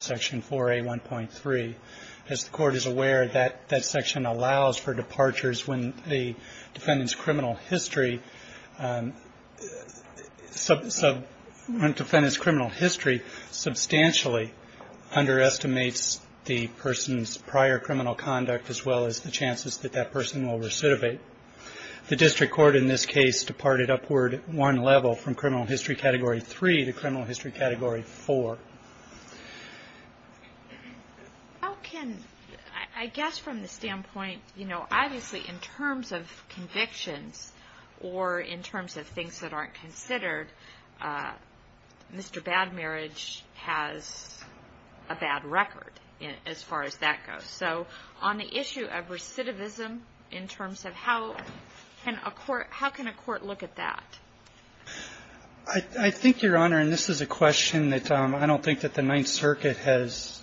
Section 4A1.3. As the court is aware, that section allows for departures when the defendant's criminal history substantially underestimates the person's prior criminal conduct as well as the chances that that person will recidivate. The district court in this case departed upward at one level from Criminal History Category 3 to Criminal History Category 4. How can, I guess from the standpoint, you know, obviously in terms of convictions or in terms of things that aren't considered, Mr. Bad Marriage has a bad record as far as that goes. So on the issue of recidivism, in terms of how can a court look at that? I think, Your Honor, and this is a question that I don't think that the Ninth Circuit has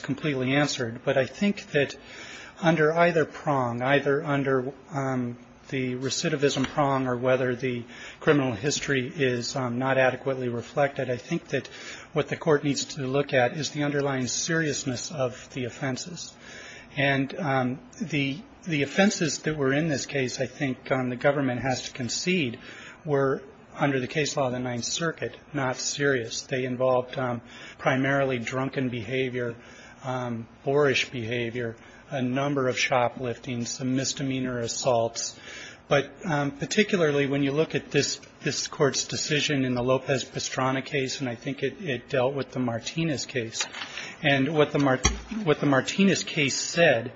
completely answered, but I think that under either prong, either under the recidivism prong or whether the criminal history is not adequately reflected, I think that what the court needs to look at is the underlying seriousness of the offenses. And the offenses that were in this case, I think the government has to concede, were under the case law of the Ninth Circuit not serious. They involved primarily drunken behavior, boorish behavior, a number of shoplifting, some misdemeanor assaults. But particularly when you look at this Court's decision in the Lopez-Pastrana case, and I think it dealt with the Martinez case. And what the Martinez case said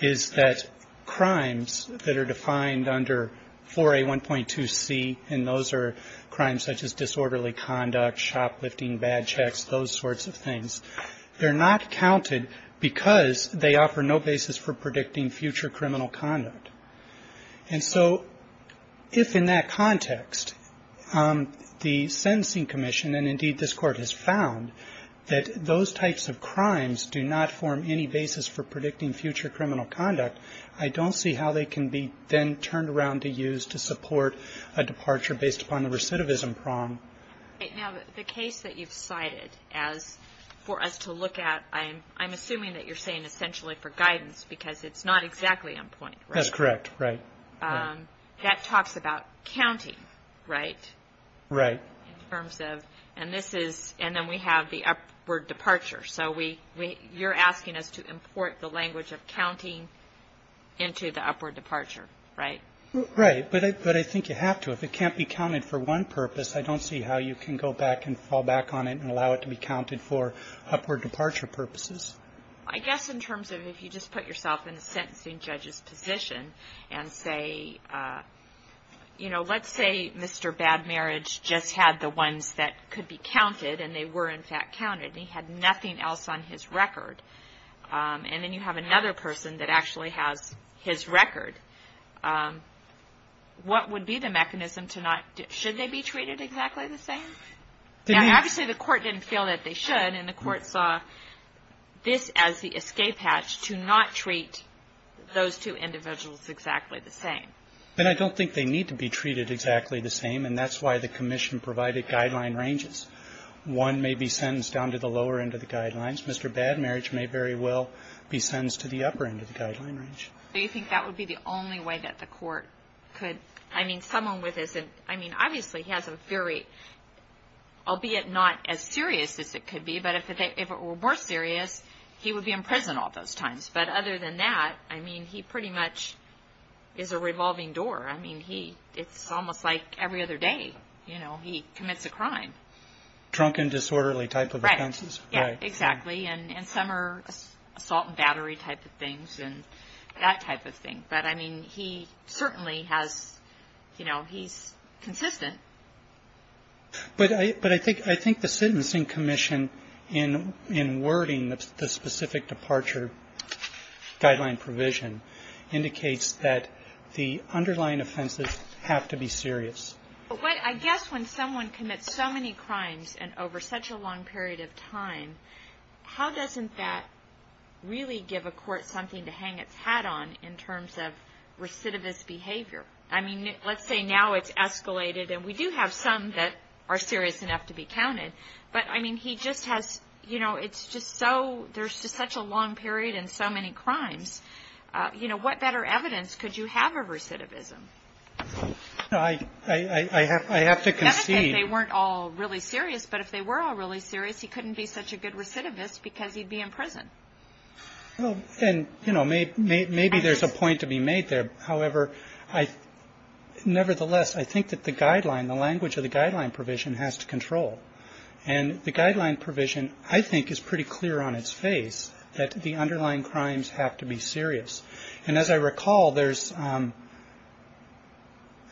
is that crimes that are defined under 4A1.2c, and those are crimes such as disorderly conduct, shoplifting, bad checks, those sorts of things, they're not counted because they offer no basis for predicting future criminal conduct. And so if in that context the Sensing Commission, and indeed this Court has found, that those types of crimes do not form any basis for predicting future criminal conduct, I don't see how they can be then turned around to use to support a departure based upon the recidivism prong. Now, the case that you've cited as for us to look at, I'm assuming that you're saying essentially for guidance because it's not exactly on point, right? That's correct. Right. That talks about counting, right? Right. In terms of, and this is, and then we have the upward departure. So you're asking us to import the language of counting into the upward departure, right? Right. But I think you have to. If it can't be counted for one purpose, I don't see how you can go back and fall back on it and allow it to be counted for upward departure purposes. I guess in terms of if you just put yourself in the sentencing judge's position and say, you know, let's say Mr. Bad Marriage just had the ones that could be counted and they were in fact counted, and he had nothing else on his record. And then you have another person that actually has his record. What would be the mechanism to not do it? Should they be treated exactly the same? Obviously, the Court didn't feel that they should, and the Court saw this as the escape hatch to not treat those two individuals exactly the same. But I don't think they need to be treated exactly the same, and that's why the commission provided guideline ranges. One may be sentenced down to the lower end of the guidelines. Mr. Bad Marriage may very well be sentenced to the upper end of the guideline range. Do you think that would be the only way that the Court could? I mean, someone with this, I mean, obviously he has a very, albeit not as serious as it could be, but if it were more serious, he would be in prison all those times. But other than that, I mean, he pretty much is a revolving door. I mean, it's almost like every other day, you know, he commits a crime. Drunken, disorderly type of offenses. Yes, exactly. And some are assault and battery type of things and that type of thing. But, I mean, he certainly has, you know, he's consistent. But I think the sentencing commission in wording the specific departure guideline provision indicates that the underlying offenses have to be serious. But I guess when someone commits so many crimes and over such a long period of time, how doesn't that really give a court something to hang its hat on in terms of recidivist behavior? I mean, let's say now it's escalated and we do have some that are serious enough to be counted. But, I mean, he just has, you know, it's just so, there's just such a long period and so many crimes. You know, what better evidence could you have of recidivism? I have to concede. Not that they weren't all really serious. But if they were all really serious, he couldn't be such a good recidivist because he'd be in prison. Well, and, you know, maybe there's a point to be made there. However, nevertheless, I think that the guideline, the language of the guideline provision has to control. And the guideline provision, I think, is pretty clear on its face that the underlying crimes have to be serious. And as I recall, there's,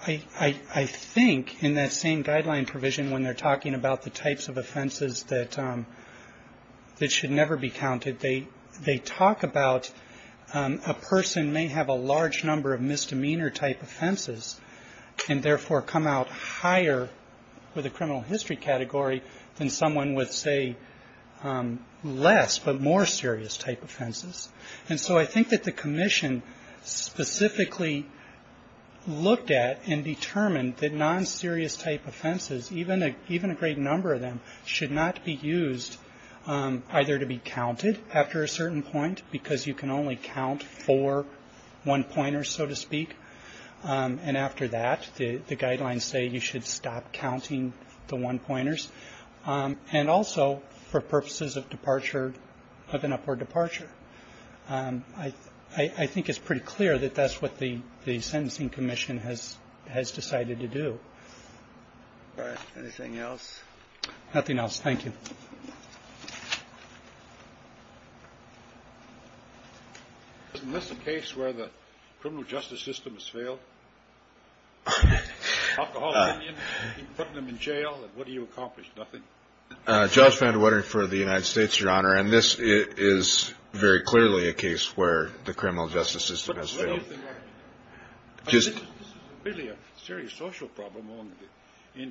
I think, in that same guideline provision, when they're talking about the types of offenses that should never be counted, they talk about a person may have a large number of misdemeanor type offenses and therefore come out higher with a criminal history category than someone with, say, less but more serious type offenses. And so I think that the commission specifically looked at and determined that non-serious type offenses, even a great number of them, should not be used either to be counted after a certain point because you can only count four one-pointers, so to speak. And after that, the guidelines say you should stop counting the one-pointers. And also, for purposes of departure, of an upward departure, I think it's pretty clear that that's what the sentencing commission has decided to do. Anything else? Nothing else. Thank you. Isn't this a case where the criminal justice system has failed? Alcoholism, putting them in jail, and what do you accomplish? Nothing. Judge Van De Wetteren for the United States, Your Honor, and this is very clearly a case where the criminal justice system has failed. What do you think? This is really a serious social problem among the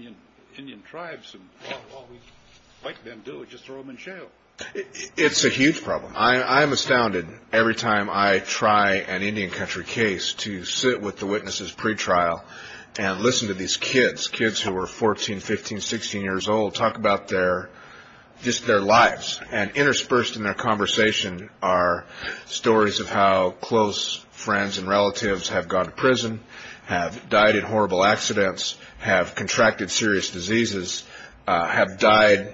Indian tribes, and all we like them to do is just throw them in jail. It's a huge problem. I'm astounded every time I try an Indian country case to sit with the witnesses pretrial and listen to these kids, kids who are 14, 15, 16 years old, talk about their lives, and interspersed in their conversation are stories of how close friends and relatives have gone to prison, have died in horrible accidents, have contracted serious diseases, have died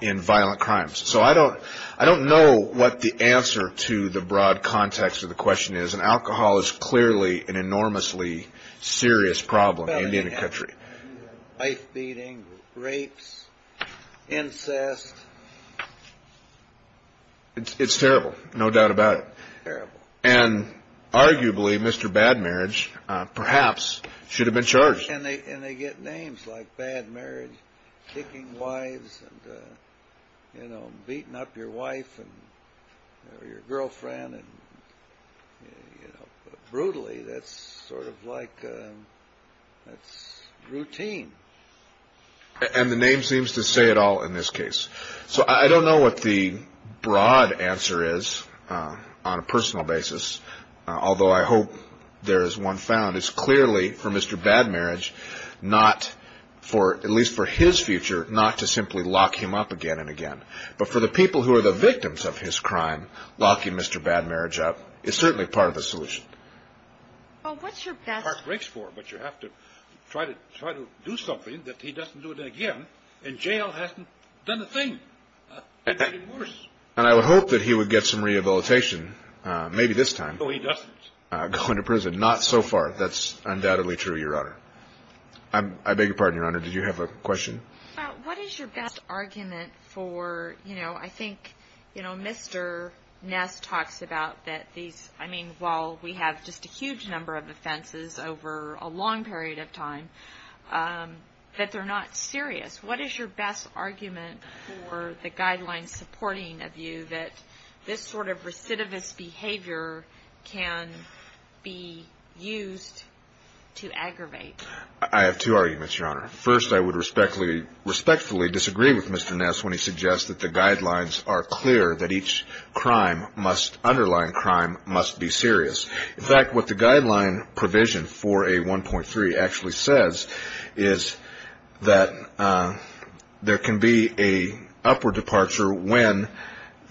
in violent crimes. So I don't know what the answer to the broad context of the question is, and alcohol is clearly an enormously serious problem in the Indian country. Life-beating, rapes, incest. It's terrible, no doubt about it. Terrible. And arguably, Mr. Bad Marriage perhaps should have been charged. And they get names like Bad Marriage, kicking wives, beating up your wife or your girlfriend. Brutally, that's sort of like routine. And the name seems to say it all in this case. So I don't know what the broad answer is on a personal basis, although I hope there is one found. It's clearly, for Mr. Bad Marriage, not for, at least for his future, not to simply lock him up again and again. But for the people who are the victims of his crime, locking Mr. Bad Marriage up is certainly part of the solution. Well, what's your best? But you have to try to do something that he doesn't do it again, and jail hasn't done a thing. And I would hope that he would get some rehabilitation, maybe this time. No, he doesn't. Going to prison, not so far. That's undoubtedly true, Your Honor. I beg your pardon, Your Honor. Did you have a question? What is your best argument for, you know, I think, you know, Mr. Ness talks about that these, I mean, while we have just a huge number of offenses over a long period of time, that they're not serious. What is your best argument for the guidelines supporting a view that this sort of recidivist behavior can be used to aggravate? I have two arguments, Your Honor. First, I would respectfully disagree with Mr. Ness when he suggests that the guidelines are clear, that each crime must, underlying crime, must be serious. In fact, what the guideline provision for A1.3 actually says is that there can be an upward departure when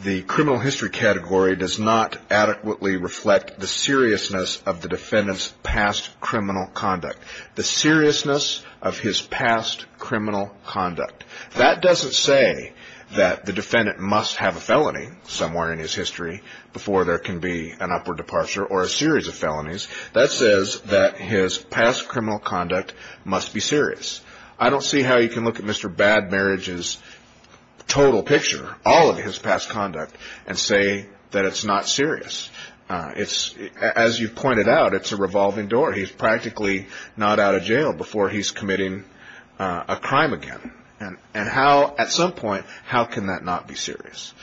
the criminal history category does not adequately reflect the seriousness of the defendant's past criminal conduct, the seriousness of his past criminal conduct. That doesn't say that the defendant must have a felony somewhere in his history before there can be an upward departure or a series of felonies. That says that his past criminal conduct must be serious. I don't see how you can look at Mr. Bad Marriage's total picture, all of his past conduct, and say that it's not serious. It's, as you pointed out, it's a revolving door. He's practically not out of jail before he's committing a crime again. And how, at some point, how can that not be serious?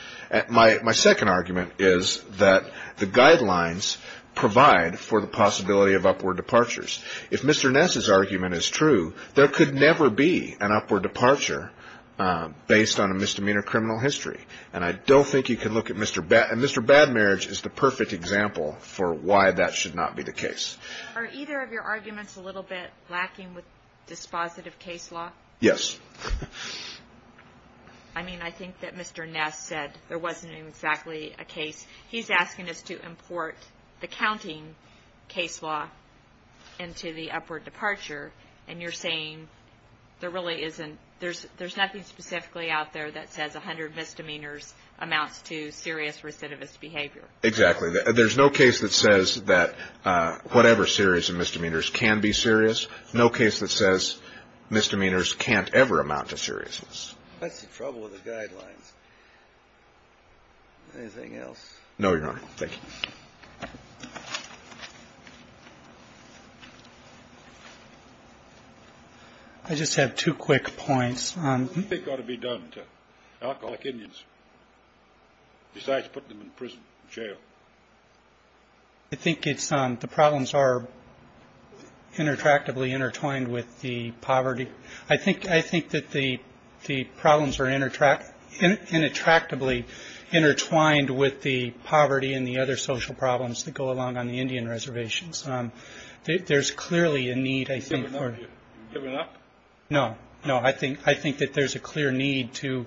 My second argument is that the guidelines provide for the possibility of upward departures. If Mr. Ness's argument is true, there could never be an upward departure based on a misdemeanor criminal history. And I don't think you can look at Mr. Bad Marriage. And Mr. Bad Marriage is the perfect example for why that should not be the case. Are either of your arguments a little bit lacking with dispositive case law? Yes. I mean, I think that Mr. Ness said there wasn't exactly a case. He's asking us to import the counting case law into the upward departure, and you're saying there really isn't, there's nothing specifically out there that says 100 misdemeanors amounts to serious recidivist behavior. Exactly. There's no case that says that whatever series of misdemeanors can be serious. There's no case that says misdemeanors can't ever amount to seriousness. That's the trouble with the guidelines. Anything else? No, Your Honor. Thank you. I just have two quick points. What do you think ought to be done to alcoholic Indians besides putting them in prison, jail? I think it's the problems are interactively intertwined with the poverty. I think I think that the the problems are interact and attractively intertwined with the poverty and the other social problems that go along on the Indian reservations. There's clearly a need, I think. No, no. I think I think that there's a clear need to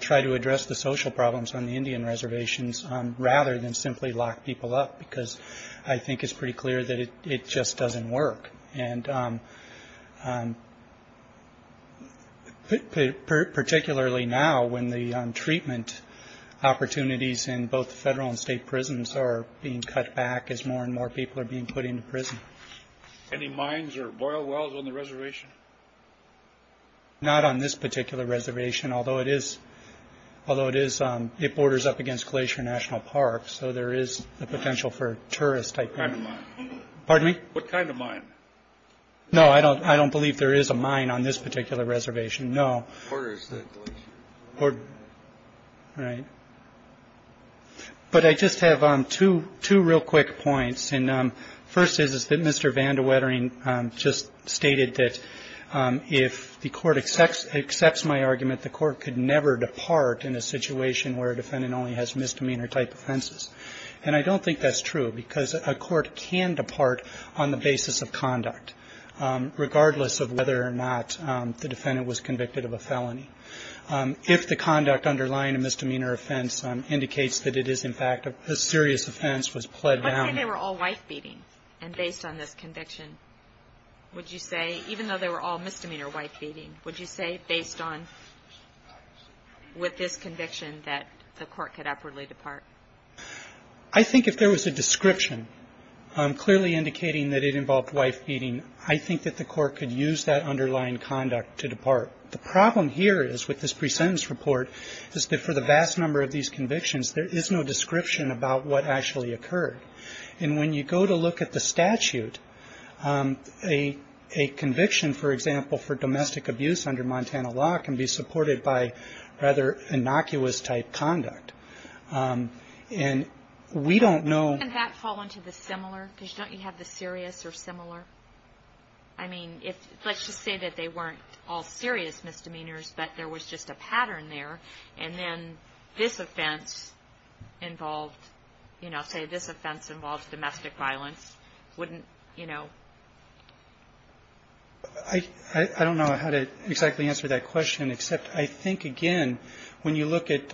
try to address the social problems on the Indian reservations, rather than simply lock people up, because I think it's pretty clear that it just doesn't work. And particularly now, when the treatment opportunities in both federal and state prisons are being cut back as more and more people are being put into prison. Any mines or boil wells on the reservation? Not on this particular reservation, although it is although it is it borders up against Glacier National Park. So there is the potential for tourists. Pardon me. What kind of mine? No, I don't. I don't believe there is a mine on this particular reservation. No. Right. But I just have two two real quick points. And first is that Mr. Vandewettering just stated that if the court accepts accepts my argument, the court could never depart in a situation where a defendant only has misdemeanor type offenses. And I don't think that's true because a court can depart on the basis of conduct, regardless of whether or not the defendant was convicted of a felony. If the conduct underlying a misdemeanor offense indicates that it is, in fact, a serious offense was pled down. They were all wife beating. And based on this conviction, would you say, even though they were all misdemeanor wife beating, would you say based on with this conviction that the court could upwardly depart? I think if there was a description clearly indicating that it involved wife beating, I think that the court could use that underlying conduct to depart. The problem here is with this pre-sentence report is that for the vast number of these convictions, there is no description about what actually occurred. And when you go to look at the statute, a conviction, for example, for domestic abuse under Montana law can be supported by rather innocuous type conduct. And we don't know. Can that fall into the similar? Because don't you have the serious or similar? I mean, let's just say that they weren't all serious misdemeanors, but there was just a pattern there. And then this offense involved, you know, say this offense involved domestic violence. Wouldn't, you know. I don't know how to exactly answer that question, except I think, again, when you look at,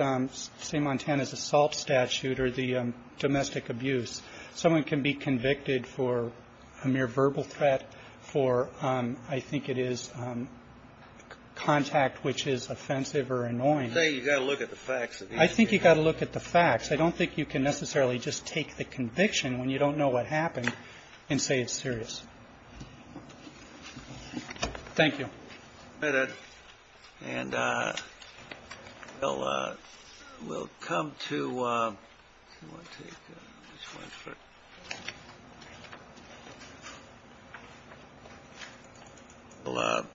say, Montana's assault statute or the domestic abuse, someone can be convicted for a mere verbal threat for, I think it is, contact which is offensive or annoying. Say you've got to look at the facts. I think you've got to look at the facts. I don't think you can necessarily just take the conviction when you don't know what happened and say it's serious. Thank you. And we'll come to.